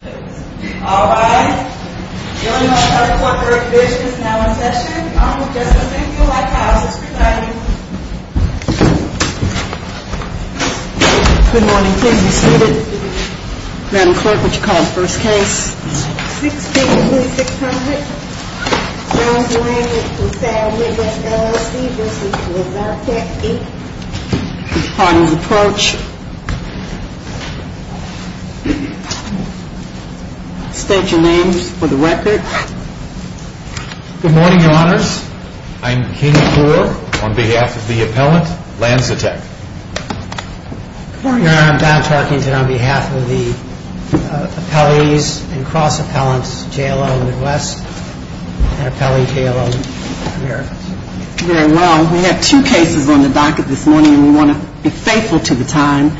All right, we are now in session. Thank you all for coming. Good morning, please be seated. Madam Clerk, what would you call the first case? 6P, 2600. John Lang LaSalle Midwest, LLC v. Lanzatech, Inc. Please state your name for the record. Good morning, Your Honors. I am Katie Poole on behalf of the appellant, Lanzatech. Good morning, Your Honor. I am Don Tarkinson on behalf of the appellees and cross-appellants, J.L.L. Midwest and appellee J.L.L. America. Very well. We have two cases on the docket this morning and we want to be faithful to the time.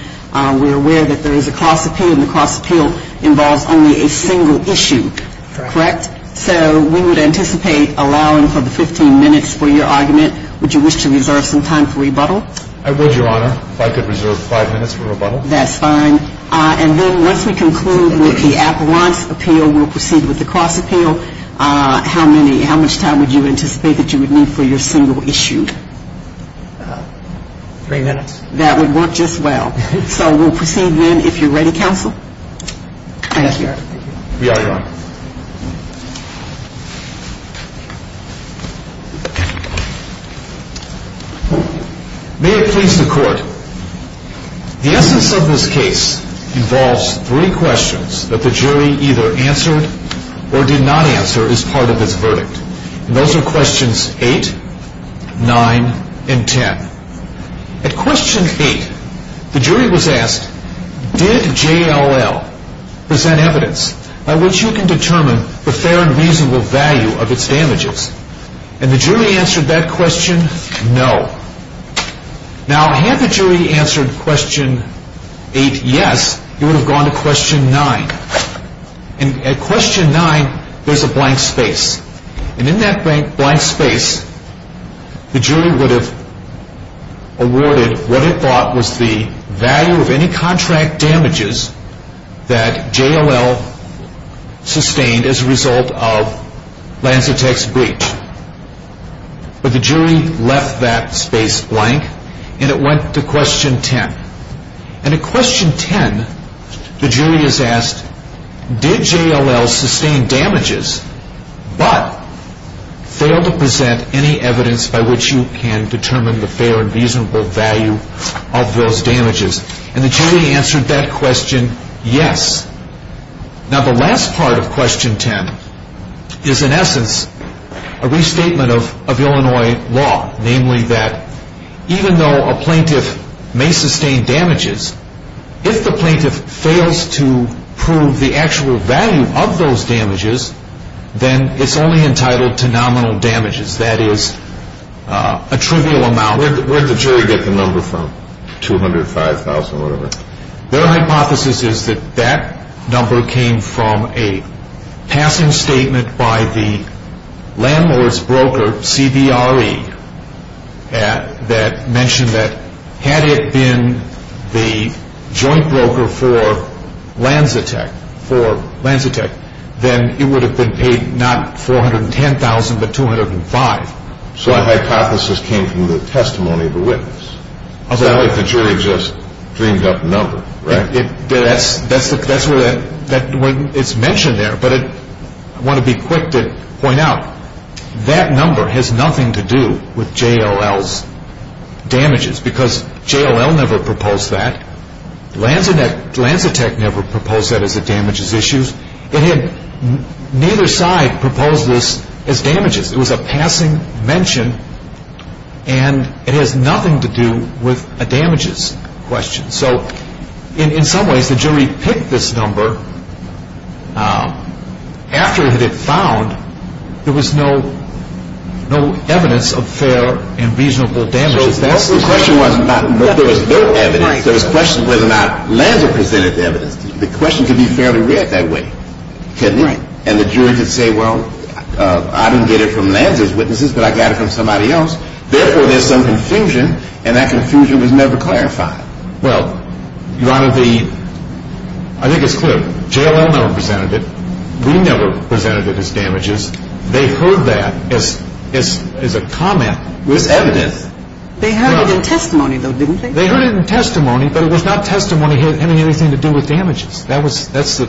We are aware that there is a cross appeal and the cross appeal involves only a single issue, correct? Correct. So we would anticipate allowing for the 15 minutes for your argument. Would you wish to reserve some time for rebuttal? I would, Your Honor, if I could reserve five minutes for rebuttal. That's fine. And then once we conclude with the appellant's appeal, we'll proceed with the cross appeal. How much time would you anticipate that you would need for your single issue? Three minutes. That would work just well. So we'll proceed then. If you're ready, counsel. We are, Your Honor. May it please the Court. The essence of this case involves three questions that the jury either answered or did not answer as part of its verdict. Those are questions 8, 9, and 10. At question 8, the jury was asked, did JLL present evidence by which you can determine the fair and reasonable value of its damages? And the jury answered that question, no. Now, had the jury answered question 8, yes, it would have gone to question 9. And at question 9, there's a blank space. And in that blank space, the jury would have awarded what it thought was the value of any contract damages that JLL sustained as a result of Lanzatek's breach. But the jury left that space blank, and it went to question 10. And at question 10, the jury is asked, did JLL sustain damages but failed to present any evidence by which you can determine the fair and reasonable value of those damages? And the jury answered that question, yes. Now, the last part of question 10 is, in essence, a restatement of Illinois law, namely that even though a plaintiff may sustain damages, if the plaintiff fails to prove the actual value of those damages, then it's only entitled to nominal damages, that is, a trivial amount. Where did the jury get the number from? $205,000 or whatever? Their hypothesis is that that number came from a passing statement by the landlord's broker, CBRE, that mentioned that had it been the joint broker for Lanzatek, then it would have been paid not $410,000, but $205,000. So a hypothesis came from the testimony of a witness. It's not like the jury just dreamed up a number, right? That's where it's mentioned there, but I want to be quick to point out, that number has nothing to do with JLL's damages, because JLL never proposed that. Lanzatek never proposed that as a damages issue. Neither side proposed this as damages. It was a passing mention, and it has nothing to do with a damages question. So in some ways, the jury picked this number after it had been found. There was no evidence of fair and reasonable damages. The question wasn't about whether there was no evidence. There was a question whether or not Lanzatek presented the evidence. And the jury could say, well, I didn't get it from Lanzatek's witnesses, but I got it from somebody else. Therefore, there's some confusion, and that confusion was never clarified. Well, Your Honor, I think it's clear. JLL never presented it. We never presented it as damages. They heard that as a comment. It was evidence. They heard it in testimony, though, didn't they? They heard it in testimony, but it was not testimony having anything to do with damages. That's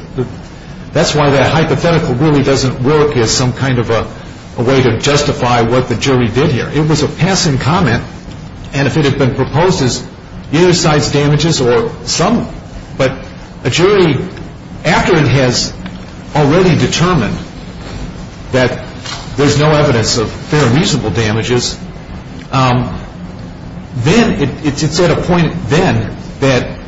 why that hypothetical really doesn't work as some kind of a way to justify what the jury did here. It was a passing comment, and if it had been proposed as either side's damages or some, but a jury, after it has already determined that there's no evidence of fair and reasonable damages, then it's at a point then that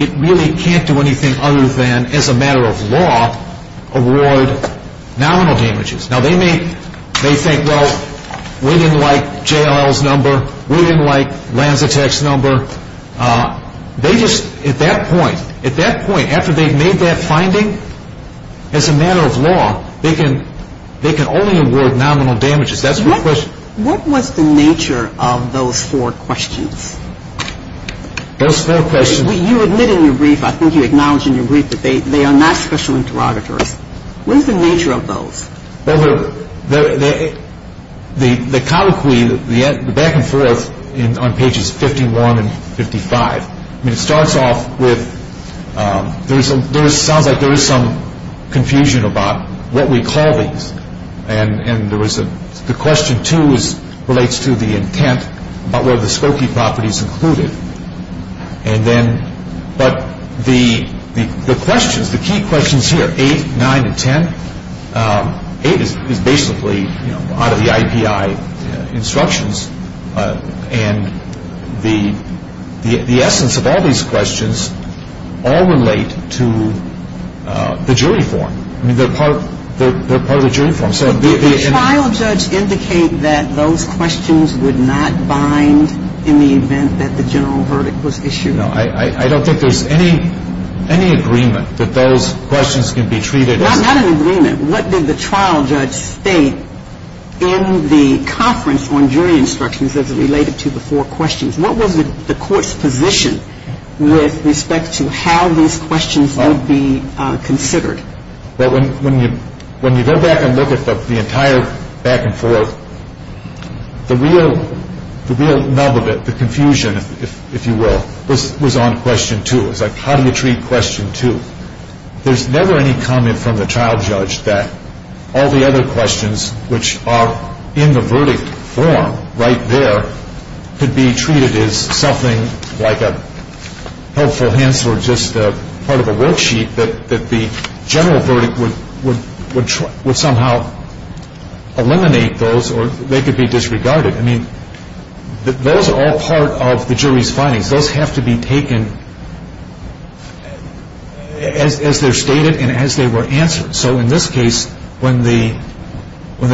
it really can't do anything other than, as a matter of law, award nominal damages. Now, they may think, well, we didn't like JLL's number. We didn't like Lanzatek's number. They just, at that point, at that point, after they've made that finding, as a matter of law, they can only award nominal damages. That's the question. What was the nature of those four questions? Those four questions. You admit in your brief, I think you acknowledge in your brief, that they are not special interrogators. What is the nature of those? Well, the colloquy, the back and forth on pages 51 and 55, I mean, it starts off with, there sounds like there is some confusion about what we call these, and there was a, the question two relates to the intent about whether the Skokie property is included, and then, but the questions, the key questions here, eight, nine, and ten, eight is basically out of the IPI instructions, and the essence of all these questions all relate to the jury form. I mean, they're part of the jury form. Did the trial judge indicate that those questions would not bind in the event that the general verdict was issued? No. I don't think there's any agreement that those questions can be treated as... Not an agreement. What did the trial judge state in the conference on jury instructions as it related to the four questions? What was the court's position with respect to how these questions would be considered? Well, when you go back and look at the entire back and forth, the real nub of it, the confusion, if you will, was on question two. It was like, how do you treat question two? There's never any comment from the trial judge that all the other questions, which are in the verdict form right there, could be treated as something like a helpful hint or just part of a worksheet that the general verdict would somehow eliminate those or they could be disregarded. I mean, those are all part of the jury's findings. Those have to be taken as they're stated and as they were answered. So in this case, when the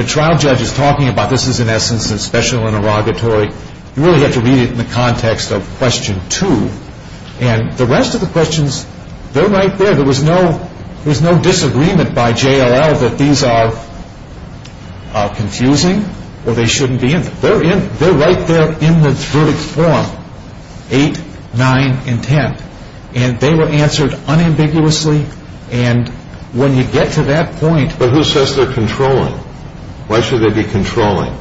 trial judge is talking about this is in essence a special interrogatory, you really have to read it in the context of question two. And the rest of the questions, they're right there. There was no disagreement by JLL that these are confusing or they shouldn't be. They're right there in the verdict form, eight, nine, and ten. And they were answered unambiguously. And when you get to that point. But who says they're controlling? Why should they be controlling?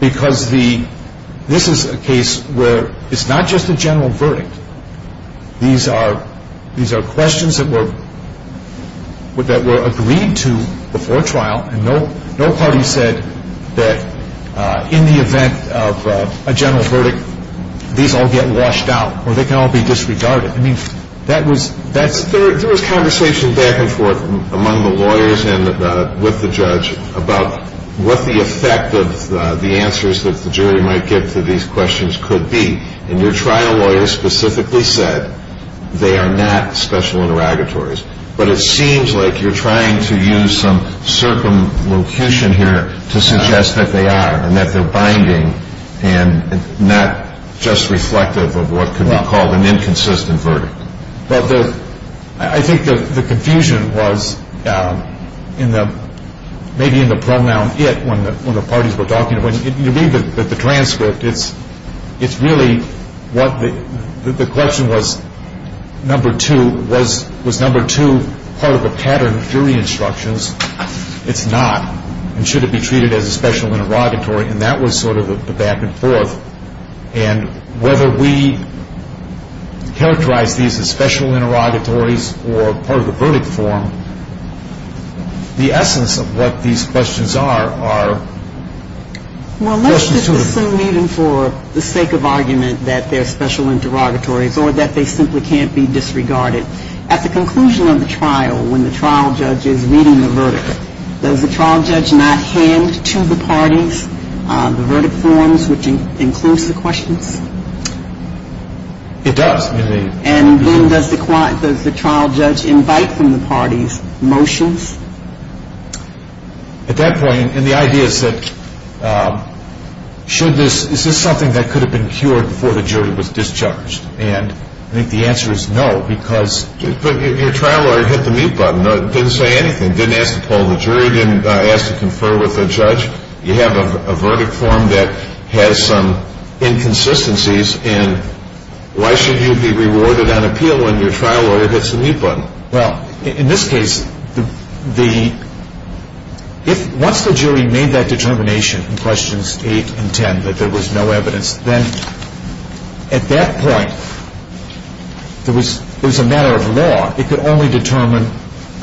Because this is a case where it's not just a general verdict. These are questions that were agreed to before trial. And no party said that in the event of a general verdict, these all get washed out or they can all be disregarded. I mean, that was ‑‑ There was conversation back and forth among the lawyers and with the judge about what the effect of the answers that the jury might get to these questions could be. And your trial lawyer specifically said they are not special interrogatories. But it seems like you're trying to use some circumlocution here to suggest that they are and that they're binding and not just reflective of what could be called an inconsistent verdict. Well, I think the confusion was maybe in the pronoun it when the parties were talking. When you read the transcript, it's really what the ‑‑ the question was, number two, was number two part of the pattern of jury instructions? It's not. And should it be treated as a special interrogatory? And that was sort of the back and forth. And whether we characterize these as special interrogatories or part of the verdict form, the essence of what these questions are are questions to the ‑‑ Well, let's just assume even for the sake of argument that they're special interrogatories or that they simply can't be disregarded. At the conclusion of the trial, when the trial judge is reading the verdict, does the trial judge not hand to the parties the verdict forms which includes the questions? It does. And then does the trial judge invite from the parties motions? At that point, and the idea is that should this ‑‑ is this something that could have been cured before the jury was discharged? And I think the answer is no because ‑‑ But your trial lawyer hit the mute button, didn't say anything, didn't ask to call the jury, didn't ask to confer with the judge. You have a verdict form that has some inconsistencies and why should you be rewarded on appeal when your trial lawyer hits the mute button? Well, in this case, the ‑‑ once the jury made that determination in questions eight and ten that there was no evidence, then at that point, there was a matter of law. It could only determine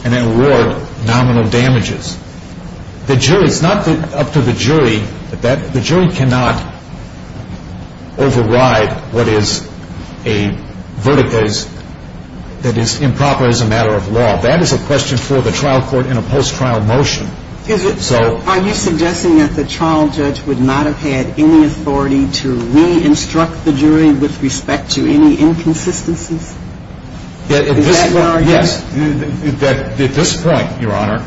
and then award nominal damages. The jury, it's not up to the jury. The jury cannot override what is a verdict that is improper as a matter of law. That is a question for the trial court in a post trial motion. Are you suggesting that the trial judge would not have had any authority to re‑instruct the jury with respect to any inconsistencies? Yes. At this point, Your Honor,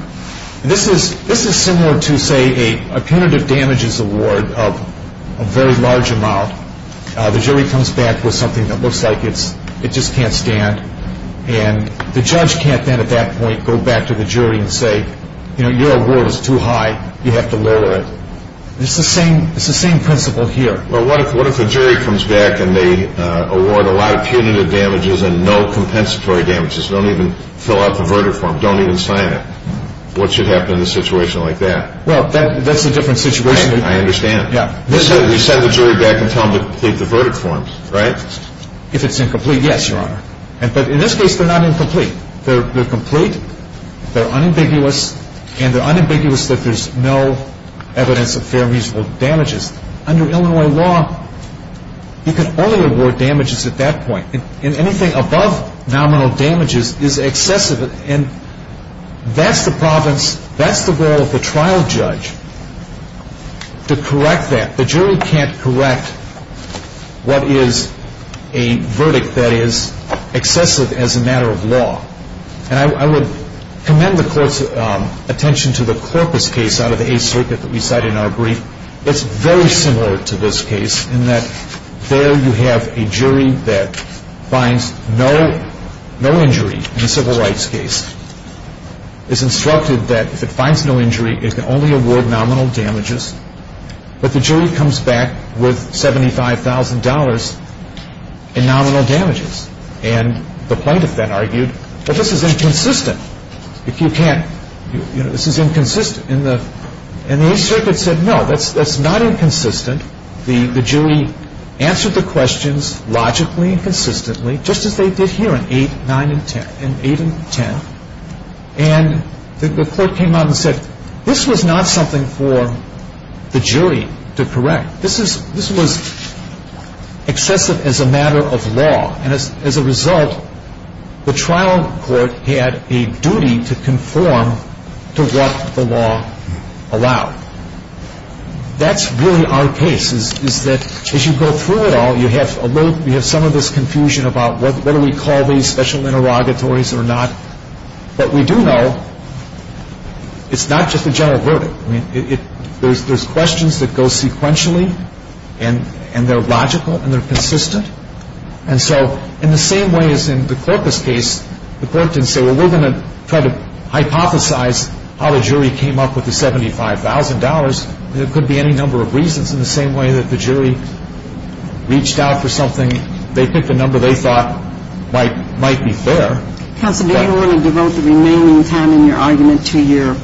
this is similar to say a punitive damages award of a very large amount. The jury comes back with something that looks like it just can't stand and the judge can't then at that point go back to the jury and say, you know, your award is too high, you have to lower it. It's the same principle here. What if the jury comes back and they award a lot of punitive damages and no compensatory damages, don't even fill out the verdict form, don't even sign it? What should happen in a situation like that? Well, that's a different situation. I understand. We send the jury back and tell them to complete the verdict form, right? If it's incomplete, yes, Your Honor. But in this case, they're not incomplete. They're complete, they're unambiguous, and they're unambiguous that there's no evidence of fair and reasonable damages. Under Illinois law, you can only award damages at that point, and anything above nominal damages is excessive. And that's the province, that's the role of the trial judge to correct that. The jury can't correct what is a verdict that is excessive as a matter of law. And I would commend the Court's attention to the Corpus case out of the Eighth Circuit that we cited in our brief. It's very similar to this case in that there you have a jury that finds no injury in a civil rights case. It's instructed that if it finds no injury, it can only award nominal damages. But the jury comes back with $75,000 in nominal damages. And the plaintiff then argued, well, this is inconsistent. If you can't, you know, this is inconsistent. And the Eighth Circuit said, no, that's not inconsistent. The jury answered the questions logically and consistently, just as they did here in 8, 9, and 10. And the Court came out and said, this was not something for the jury to correct. This was excessive as a matter of law. And as a result, the trial court had a duty to conform to what the law allowed. That's really our case, is that as you go through it all, you have some of this confusion about what do we call these special interrogatories or not, but we do know it's not just a general verdict. I mean, there's questions that go sequentially and they're logical and they're consistent. And so in the same way as in the Corpus case, the Court didn't say, well, we're going to try to hypothesize how the jury came up with the $75,000. There could be any number of reasons in the same way that the jury reached out for something. I mean, they picked a number they thought might be fair. Counsel, do you want to devote the remaining time in your argument to your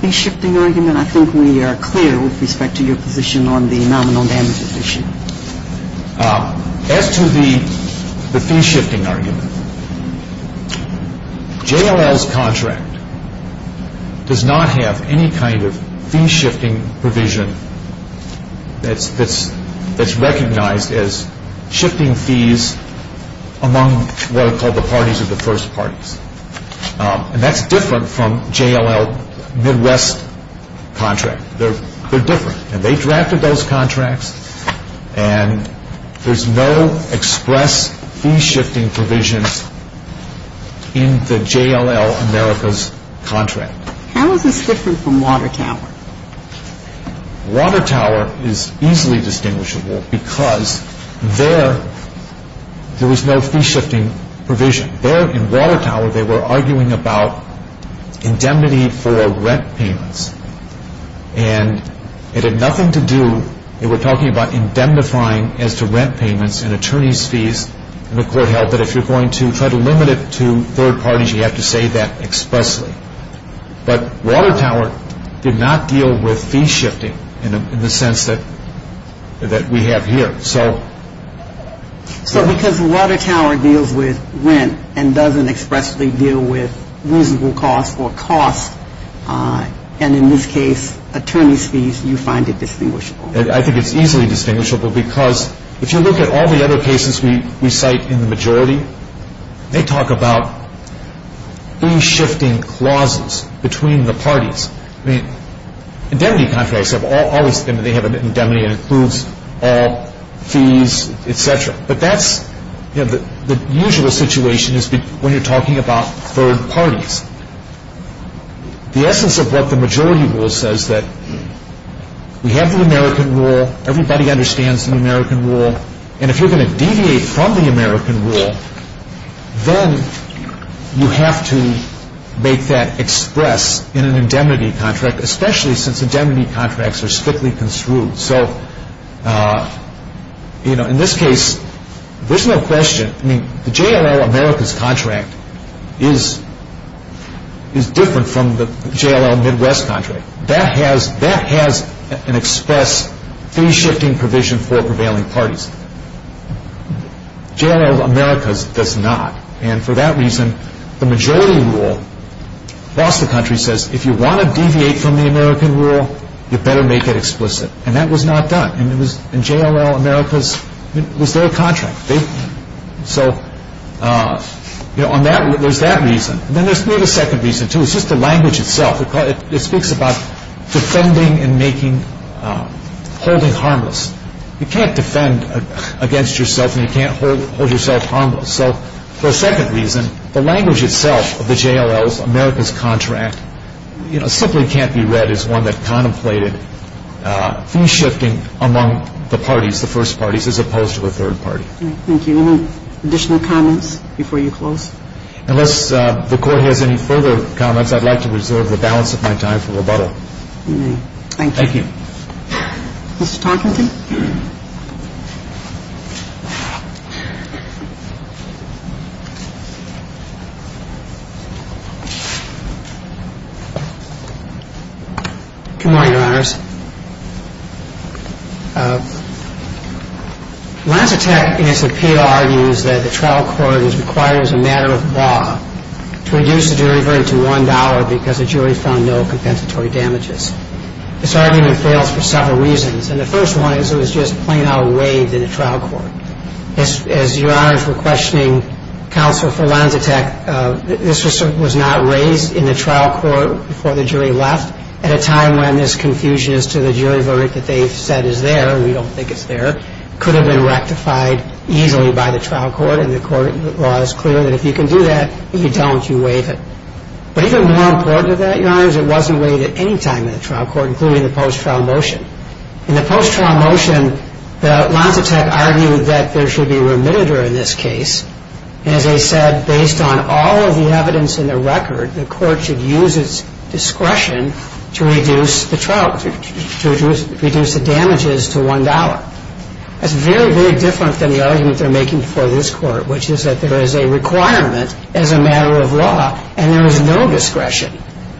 fee-shifting argument? I think we are clear with respect to your position on the nominal damages issue. As to the fee-shifting argument, JLL's contract does not have any kind of fee-shifting provision that's recognized as shifting fees among what are called the parties of the first parties. And that's different from JLL Midwest's contract. They're different. And they drafted those contracts and there's no express fee-shifting provision in the JLL America's contract. How is this different from Watertower? Watertower is easily distinguishable because there was no fee-shifting provision. There in Watertower, they were arguing about indemnity for rent payments. And it had nothing to do, they were talking about indemnifying as to rent payments and attorney's fees. And the court held that if you're going to try to limit it to third parties, you have to say that expressly. But Watertower did not deal with fee-shifting in the sense that we have here. So because Watertower deals with rent and doesn't expressly deal with reasonable cost or cost, and in this case attorney's fees, you find it distinguishable. I think it's easily distinguishable because if you look at all the other cases we cite in the majority, they talk about fee-shifting clauses between the parties. Indemnity contracts, they have an indemnity that includes all fees, et cetera. But that's the usual situation when you're talking about third parties. The essence of what the majority rule says is that we have the American rule, everybody understands the American rule, and if you're going to deviate from the American rule, then you have to make that express in an indemnity contract, especially since indemnity contracts are strictly construed. So in this case, there's no question. The JLL Americas contract is different from the JLL Midwest contract. That has an express fee-shifting provision for prevailing parties. JLL Americas does not, and for that reason, the majority rule across the country says if you want to deviate from the American rule, you better make it explicit. And that was not done. And JLL Americas, it was their contract. So there's that reason. And then there's a second reason, too. It's just the language itself. It speaks about defending and holding harmless. You can't defend against yourself and you can't hold yourself harmless. So for a second reason, the language itself of the JLL Americas contract simply can't be read as an indemnity contract. And that's the reason. And that's the reason. And that is one that contemplated fee-shifting among the parties, the first parties, as opposed to a third party. Thank you. Any additional comments before you close? Unless the Court has any further comments, I'd like to reserve the balance of my time for rebuttal. Thank you. Thank you. Mr. Tompkinson? Good morning, Your Honors. Lancetec, in its appeal, argues that the trial court is required as a matter of law to reduce the jury verdict to $1 because the jury found no compensatory damages. This argument fails for several reasons. And the first one is it was just plain-out waived in a trial court. As Your Honors were questioning counsel for Lancetec, this was not raised in the trial court before the jury left at a time when this confusion as to the jury verdict that they've said is there, we don't think it's there, could have been rectified easily by the trial court. And the court law is clear that if you can do that, if you don't, you waive it. But even more important than that, Your Honors, it wasn't waived at any time in the trial court, including the post-trial motion. In the post-trial motion, Lancetec argued that there should be a remitted jury in this case. And as I said, based on all of the evidence in the record, the court should use its discretion to reduce the damages to $1. That's very, very different than the argument they're making before this court, which is that there is a requirement as a matter of law, and there is no discretion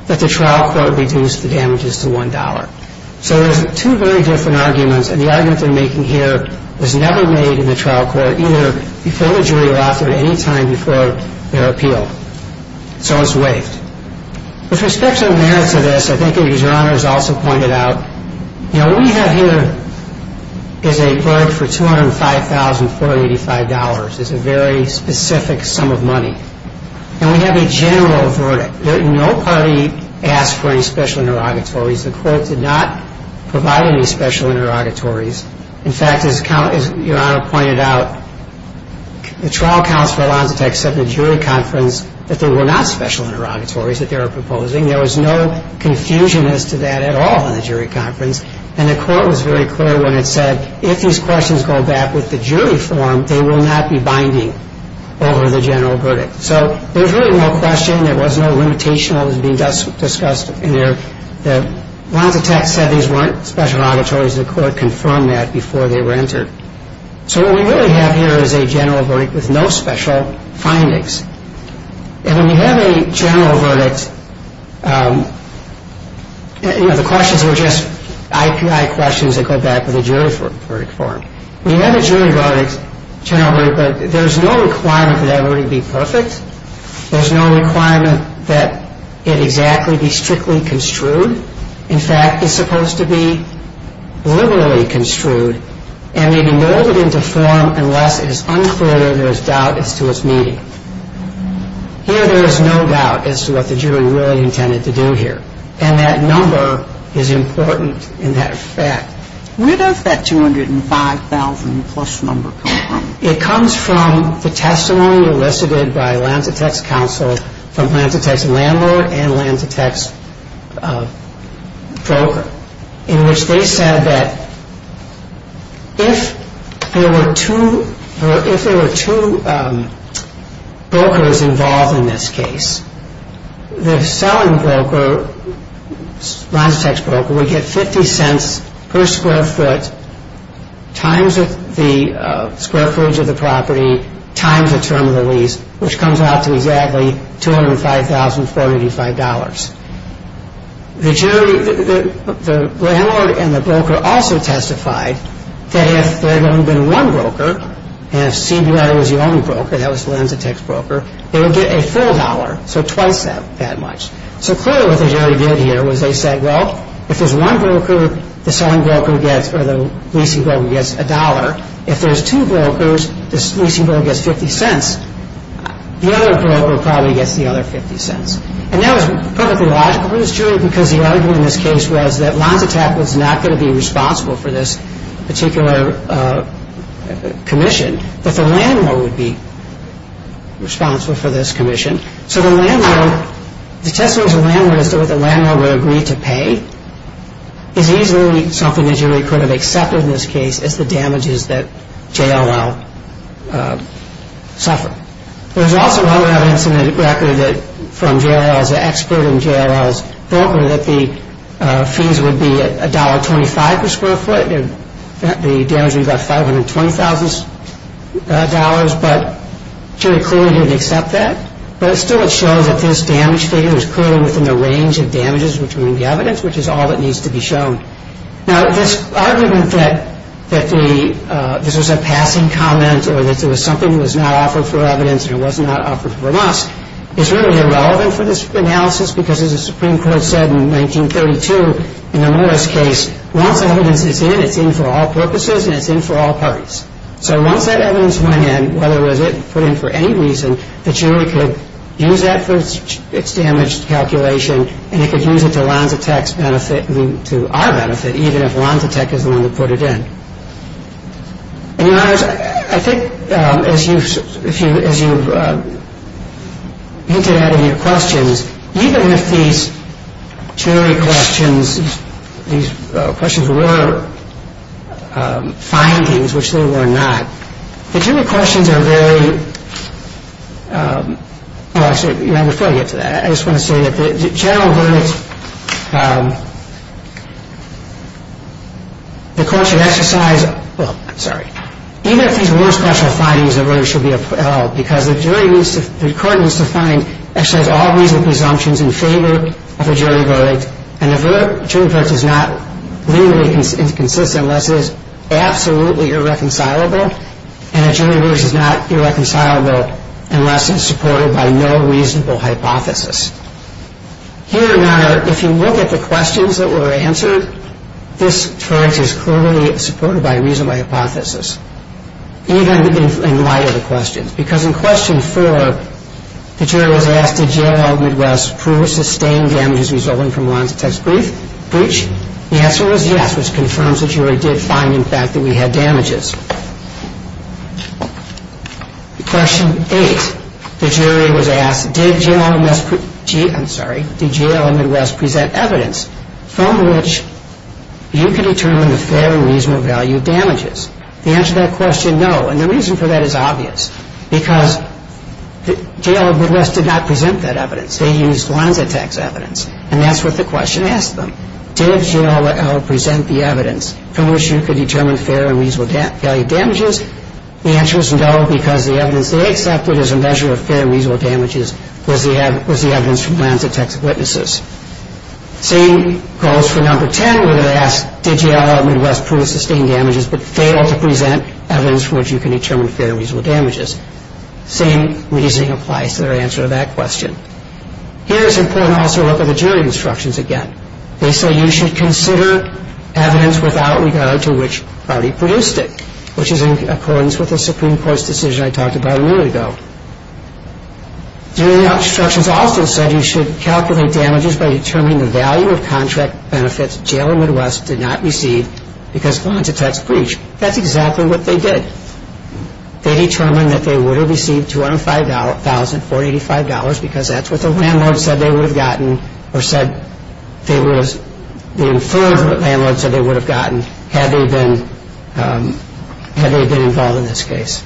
that the trial court reduce the damages to $1. So there's two very different arguments, and the argument they're making here was never made in the trial court, either before the jury left or at any time before their appeal. So it's waived. With respect to the merits of this, I think as Your Honors also pointed out, Now, what we have here is a verdict for $205,485. It's a very specific sum of money. And we have a general verdict. No party asked for any special interrogatories. The court did not provide any special interrogatories. In fact, as Your Honor pointed out, the trial counsel at Lancetec said at the jury conference that there were not special interrogatories that they were proposing. There was no confusion as to that at all in the jury conference. And the court was very clear when it said, if these questions go back with the jury form, they will not be binding over the general verdict. So there's really no question. There was no limitation that was being discussed in there. Lancetec said these weren't special interrogatories. The court confirmed that before they were entered. So what we really have here is a general verdict with no special findings. And when you have a general verdict, you know, the questions were just IPI questions that go back with the jury verdict form. When you have a jury verdict, general verdict, there's no requirement that that verdict be perfect. There's no requirement that it exactly be strictly construed. In fact, it's supposed to be liberally construed and may be molded into form unless it is unclear where there's doubt as to its meaning. Here there is no doubt as to what the jury really intended to do here. And that number is important in that effect. Where does that 205,000-plus number come from? It comes from the testimony elicited by Lancetec's counsel from Lancetec's landlord and Lancetec's broker, in which they said that if there were two brokers involved in this case, the selling broker, Lancetec's broker, would get 50 cents per square foot times the square footage of the property times the term of the lease, which comes out to exactly $205,485. The landlord and the broker also testified that if there had only been one broker, and if CBR was the only broker, that was Lancetec's broker, they would get a full dollar, so twice that much. So clearly what the jury did here was they said, well, if there's one broker, the leasing broker gets a dollar. If there's two brokers, the leasing broker gets 50 cents. The other broker probably gets the other 50 cents. And that was perfectly logical for this jury, because the argument in this case was that Lancetec was not going to be responsible for this particular commission, but the landlord would be responsible for this commission. So the landlord, the testimony of the landlord as to whether the landlord would agree to pay is easily something the jury could have accepted in this case as the damages that JLL suffered. There's also other evidence in the record from JLL's expert and JLL's broker that the fees would be $1.25 per square foot, and the damage would be about $520,000, but the jury clearly didn't accept that. But still it shows that this damage figure is clearly within the range of damages which are in the evidence, which is all that needs to be shown. Now, this argument that this was a passing comment or that it was something that was not offered for evidence and it was not offered for loss is really irrelevant for this analysis because, as the Supreme Court said in 1932 in the Morris case, once evidence is in, it's in for all purposes and it's in for all parties. So once that evidence went in, whether it was put in for any reason, the jury could use that for its damaged calculation and it could use it to Lancetec's benefit, to our benefit, even if Lancetec is the one that put it in. And, Your Honors, I think as you've hinted at in your questions, even if these jury questions, these questions were findings, which they were not, the jury questions are very, well, actually, before I get to that, I just want to say that the general verdict, the court should exercise, well, I'm sorry, even if these were special findings, the verdict should be upheld because the court needs to find, exercise all reasonable assumptions in favor of a jury verdict and a jury verdict is not legally inconsistent unless it is absolutely irreconcilable and a jury verdict is not irreconcilable unless it's supported by no reasonable hypothesis. Here, Your Honor, if you look at the questions that were answered, this charge is clearly supported by a reasonable hypothesis, even in light of the questions. Because in question four, the jury was asked, did JLL Midwest prove or sustain damages resulting from Lancetec's breach? The answer was yes, which confirms that jury did find, in fact, that we had damages. Question eight, the jury was asked, did JLL Midwest, I'm sorry, did JLL Midwest present evidence from which you can determine the fair and reasonable value of damages? The answer to that question, no, and the reason for that is obvious because JLL Midwest did not present that evidence. They used Lancetec's evidence and that's what the question asked them. Did JLL present the evidence from which you could determine fair and reasonable value of damages? The answer was no because the evidence they accepted as a measure of fair and reasonable damages was the evidence from Lancetec's witnesses. Same goes for number 10 where they asked, did JLL Midwest prove or sustain damages but fail to present evidence for which you can determine fair and reasonable damages? Same reasoning applies to their answer to that question. Here it's important to also look at the jury instructions again. They say you should consider evidence without regard to which party produced it, which is in accordance with the Supreme Court's decision I talked about a minute ago. Jury instructions also said you should calculate damages by determining the value of contract benefits JLL Midwest did not receive because of Lancetec's breach. That's exactly what they did. They determined that they would have received $205,485 because that's what the landlord said they would have gotten or said they would have, the inferred landlord said they would have gotten had they been involved in this case.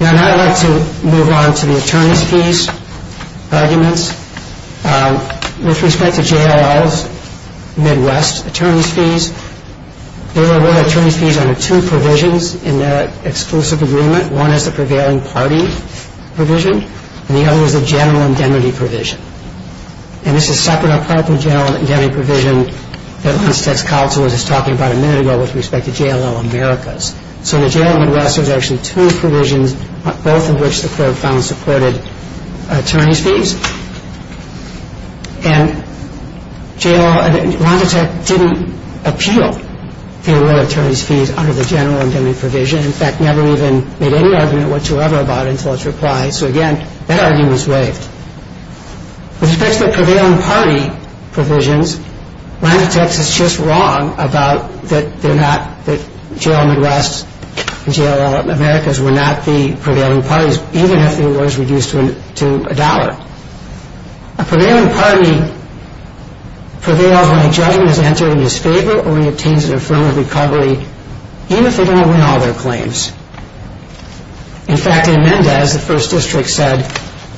Now I'd like to move on to the attorney's fees arguments. There were attorney's fees under two provisions in their exclusive agreement. One is the prevailing party provision and the other is the general indemnity provision. And this is separate or part of the general indemnity provision that Lancetec's counsel was just talking about a minute ago with respect to JLL Americas. So the JLL Midwest, there's actually two provisions, both of which the court found supported attorney's fees. And JLL, Lancetec didn't appeal the award of attorney's fees under the general indemnity provision. In fact, never even made any argument whatsoever about it until its reply. So again, that argument was waived. With respect to the prevailing party provisions, Lancetec's is just wrong about that they're not, that JLL Midwest and JLL Americas were not the prevailing parties even if the award is reduced to a dollar. A prevailing party prevails when a judgment is entered in his favor or he obtains an affirmative recovery, even if they don't win all their claims. In fact, in Mendez, the first district said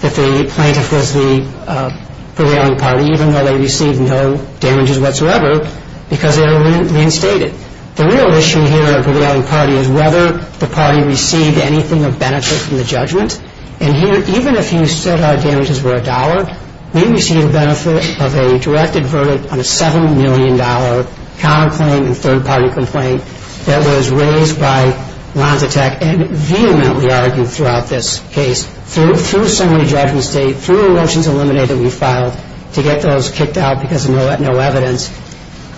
that the plaintiff was the prevailing party even though they received no damages whatsoever because they were reinstated. The real issue here of the prevailing party is whether the party received anything of benefit from the judgment. And here, even if you said our damages were a dollar, we received a benefit of a directed verdict on a $7 million counterclaim and third-party complaint that was raised by Lancetec and vehemently argued throughout this case, through a summary judgment state, through a motion to eliminate that we filed to get those kicked out because of no evidence.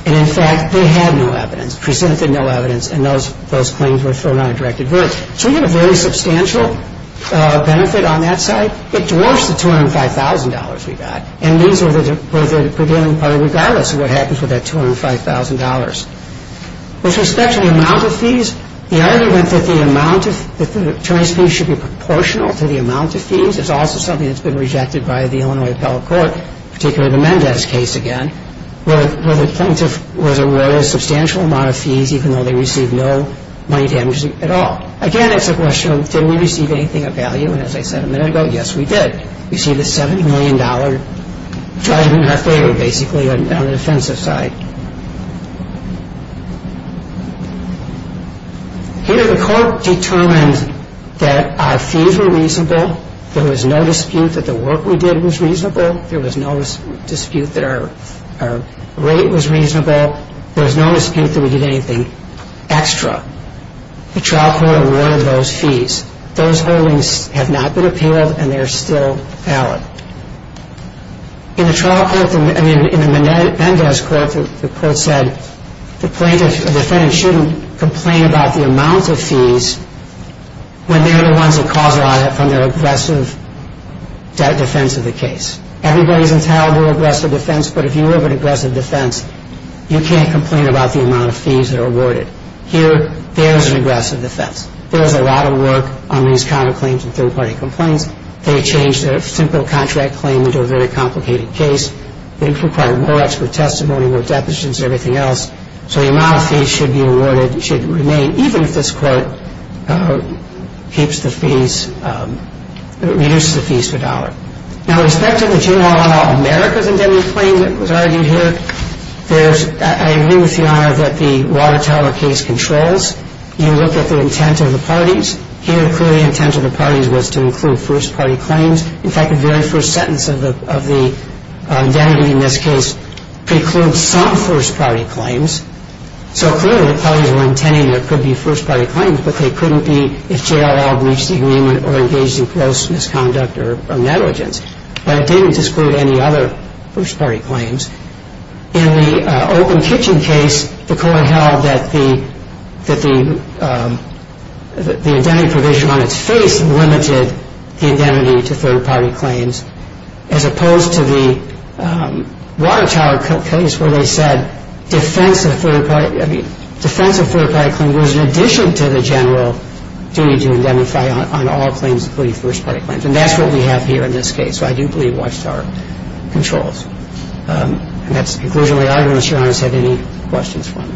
And in fact, they had no evidence, presented no evidence, and those claims were thrown on a directed verdict. So we had a very substantial benefit on that side. It dwarfs the $205,000 we got. And these were the prevailing party regardless of what happens with that $205,000. With respect to the amount of fees, the argument that the amount of, that the attorneys' fees should be proportional to the amount of fees is also something that's been rejected by the Illinois Appellate Court, particularly the Mendez case again, where the plaintiff was awarded a substantial amount of fees even though they received no money damages at all. Again, it's a question of, did we receive anything of value? And as I said a minute ago, yes, we did. We received a $70 million judgment in our favor, basically, on the defensive side. Here, the court determined that our fees were reasonable. There was no dispute that the work we did was reasonable. There was no dispute that our rate was reasonable. There was no dispute that we did anything extra. The trial court awarded those fees. Those holdings have not been appealed, and they are still valid. In the Mendez court, the court said, the defendant shouldn't complain about the amount of fees when they're the ones that cause a lot from their aggressive defense of the case. Everybody's entitled to aggressive defense, but if you have an aggressive defense, you can't complain about the amount of fees that are awarded. Here, there's an aggressive defense. There's a lot of work on these counterclaims and third-party complaints. They changed a simple contract claim into a very complicated case. It required more expert testimony, more deputants, everything else. So the amount of fees should be awarded, should remain, even if this court keeps the fees, reduces the fees per dollar. Now, with respect to the General Audit America's indemnity claim that was argued here, I agree with Your Honor that the Water Tower case controls. You look at the intent of the parties. Here, clearly, the intent of the parties was to include first-party claims. In fact, the very first sentence of the indemnity in this case precludes some first-party claims. So clearly, the parties were intending there could be first-party claims, but they couldn't be if JLL breached the agreement or engaged in gross misconduct or negligence. But it didn't disclude any other first-party claims. In the Open Kitchen case, the court held that the indemnity provision on its face limited the indemnity to third-party claims, as opposed to the Water Tower case, where they said defense of third-party claims was in addition to the general duty to indemnify on all claims, including first-party claims. And that's what we have here in this case. So I do believe Water Tower controls. And that's the conclusion of the argument. Does Your Honor have any questions for me?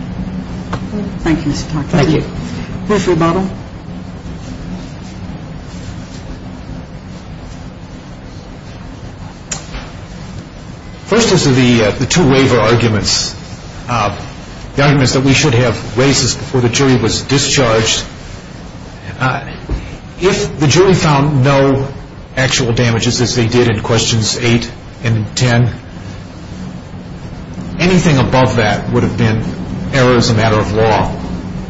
Thank you, Mr. Taft. Thank you. Ms. Rebottle. First, as to the two waiver arguments, the arguments that we should have raised is before the jury was discharged. If the jury found no actual damages, as they did in questions 8 and 10, anything above that would have been error as a matter of law.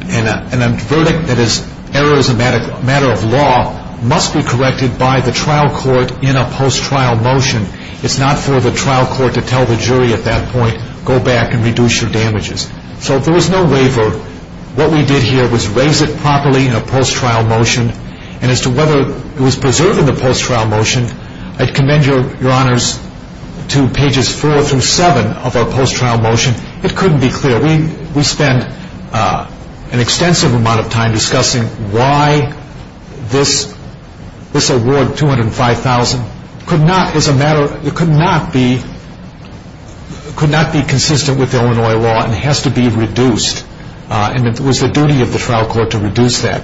And a verdict that is error as a matter of law must be corrected by the trial court in a post-trial motion. It's not for the trial court to tell the jury at that point, go back and reduce your damages. So if there was no waiver, what we did here was raise it properly in a post-trial motion. And as to whether it was preserved in the post-trial motion, I commend Your Honors to pages 4 through 7 of our post-trial motion. It couldn't be clearer. We spent an extensive amount of time discussing why this award, $205,000, could not be consistent with Illinois law and has to be reduced. And it was the duty of the trial court to reduce that.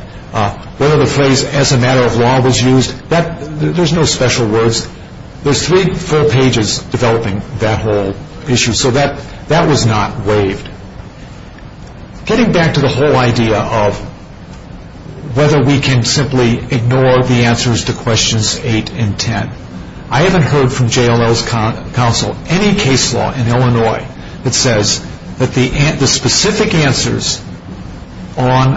Whether the phrase as a matter of law was used, there's no special words. There's three full pages developing that whole issue. So that was not waived. Getting back to the whole idea of whether we can simply ignore the answers to questions 8 and 10, I haven't heard from JLL's counsel any case law in Illinois that says that the specific answers on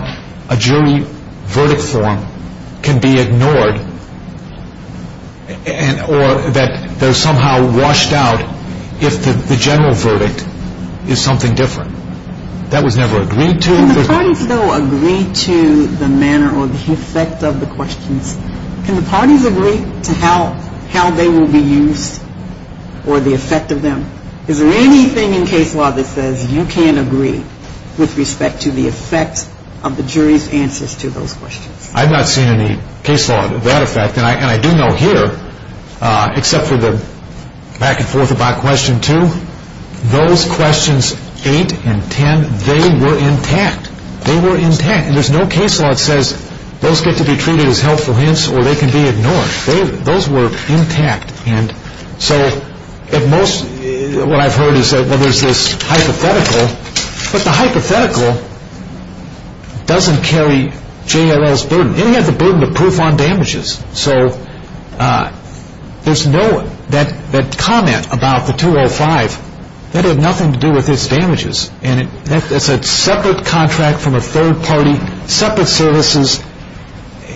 a jury verdict form can be ignored or that they're somehow washed out if the general verdict is something different. That was never agreed to. Can the parties, though, agree to the manner or the effect of the questions? Can the parties agree to how they will be used or the effect of them? Is there anything in case law that says you can't agree with respect to the effect of the jury's answers to those questions? I've not seen any case law of that effect. And I do know here, except for the back and forth about question 2, those questions 8 and 10, they were intact. They were intact. And there's no case law that says those get to be treated as helpful hints or they can be ignored. Those were intact. So what I've heard is that there's this hypothetical, but the hypothetical doesn't carry JLL's burden. It had the burden of proof on damages. So there's no comment about the 205 that had nothing to do with its damages. And that's a separate contract from a third party, separate services.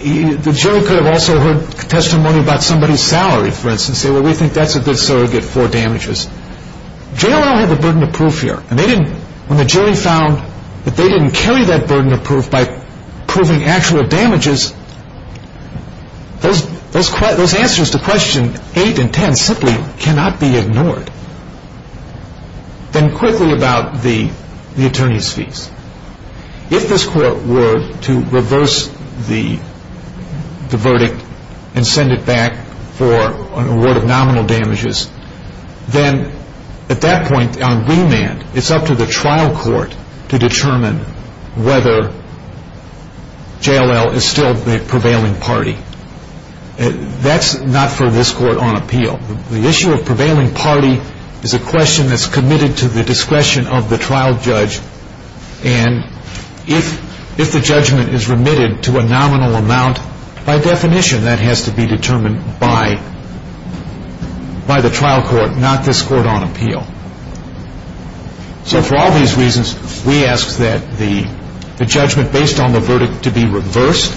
The jury could have also heard testimony about somebody's salary, for instance, and said, well, we think that's a good salary to get for damages. JLL had the burden of proof here. And when the jury found that they didn't carry that burden of proof by proving actual damages, those answers to question 8 and 10 simply cannot be ignored. Then quickly about the attorney's fees. If this court were to reverse the verdict and send it back for an award of nominal damages, then at that point on remand it's up to the trial court to determine whether JLL is still the prevailing party. That's not for this court on appeal. The issue of prevailing party is a question that's committed to the discretion of the trial judge. And if the judgment is remitted to a nominal amount, by definition that has to be determined by the trial court, not this court on appeal. So for all these reasons, we ask that the judgment based on the verdict to be reversed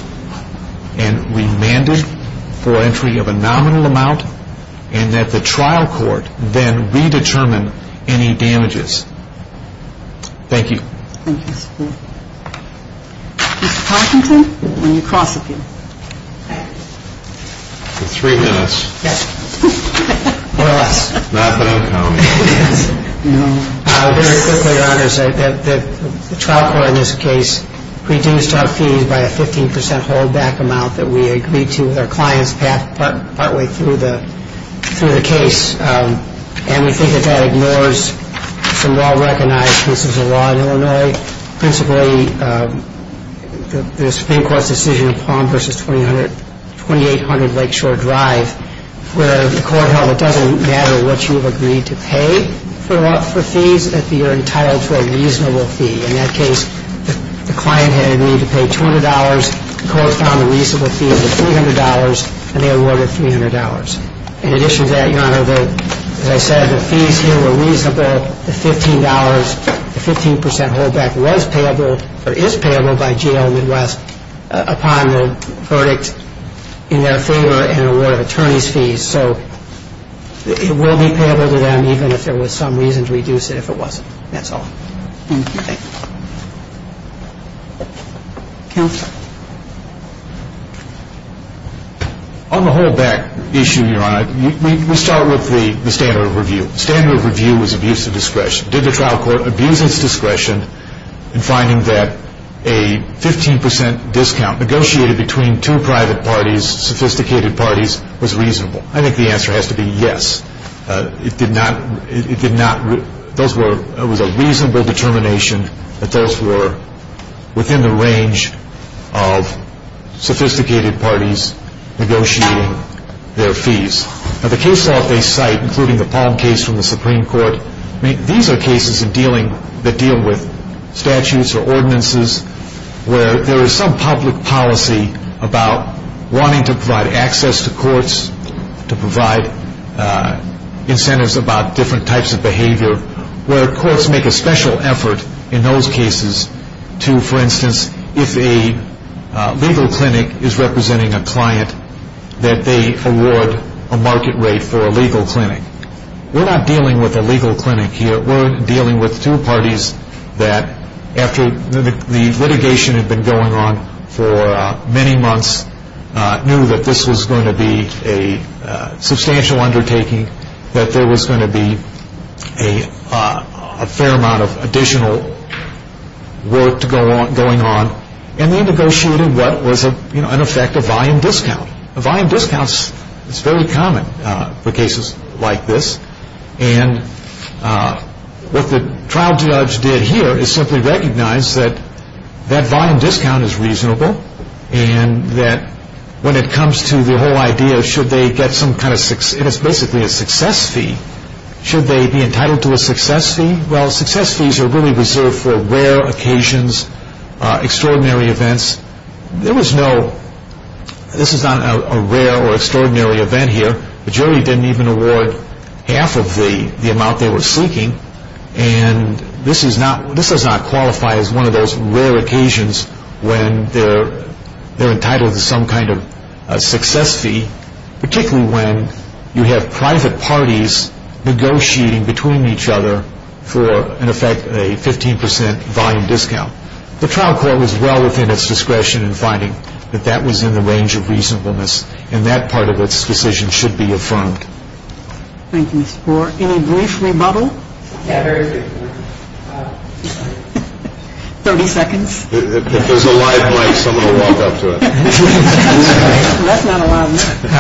and remanded for entry of a nominal amount and that the trial court then redetermine any damages. Thank you. Thank you. Mr. Parkinson, when you cross appeal. For three minutes. Yes. More or less. Not that I'm counting. No. Very quickly, Your Honors. The trial court in this case reduced our fees by a 15 percent holdback amount that we agreed to with our clients partway through the case. And we think that that ignores some well-recognized pieces of law in Illinois, principally the Supreme Court's decision in Palm v. 2800 Lakeshore Drive, where the court held it doesn't matter what you've agreed to pay for fees if you're entitled to a reasonable fee. In that case, the client had agreed to pay $200, the court found a reasonable fee of $300, and they awarded $300. In addition to that, Your Honor, as I said, the fees here were reasonable. The $15, the 15 percent holdback was payable or is payable by GL Midwest upon the verdict in their favor and aware of attorney's fees. So it will be payable to them even if there was some reason to reduce it if it wasn't. That's all. Thank you. Thank you. Counsel. On the holdback issue, Your Honor, we start with the standard of review. The standard of review was abuse of discretion. Did the trial court abuse its discretion in finding that a 15 percent discount negotiated between two private parties, sophisticated parties, was reasonable? I think the answer has to be yes. It did not, those were, it was a reasonable determination that those were within the range of sophisticated parties negotiating their fees. Now the case law they cite, including the Palm case from the Supreme Court, these are cases that deal with statutes or ordinances where there is some public policy about wanting to provide access to courts, to provide incentives about different types of behavior, where courts make a special effort in those cases to, for instance, if a legal clinic is representing a client that they award a market rate for a legal clinic. We're not dealing with a legal clinic here. We're dealing with two parties that after the litigation had been going on for many months knew that this was going to be a substantial undertaking, that there was going to be a fair amount of additional work going on, and then negotiated what was in effect a volume discount. A volume discount is very common for cases like this. And what the trial judge did here is simply recognize that that volume discount is reasonable and that when it comes to the whole idea of should they get some kind of success, and it's basically a success fee, should they be entitled to a success fee? Well, success fees are really reserved for rare occasions, extraordinary events. There was no, this is not a rare or extraordinary event here. The jury didn't even award half of the amount they were seeking, and this does not qualify as one of those rare occasions when they're entitled to some kind of success fee, particularly when you have private parties negotiating between each other for, in effect, a 15% volume discount. The trial court was well within its discretion in finding that that was in the range of reasonableness and that part of its decision should be affirmed. Thank you, Mr. Moore. Any brief rebuttal? Yeah, very briefly. Thirty seconds. If there's a live mic, someone will walk up to it. That's not a live mic.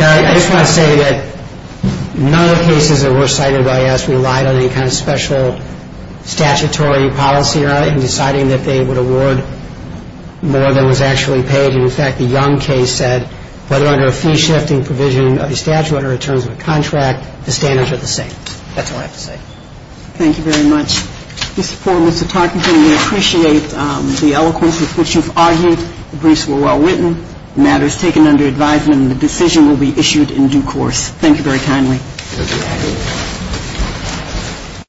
I just want to say that none of the cases that were cited by us relied on any kind of special statutory policy in deciding that they would award more than was actually paid, and, in fact, the Young case said whether under a fee-shifting provision of the statute or in terms of a contract, the standards are the same. That's all I have to say. Thank you very much. Mr. Parkinson, we appreciate the eloquence with which you've argued. The briefs were well written. The matter is taken under advisement, and the decision will be issued in due course. Thank you very kindly.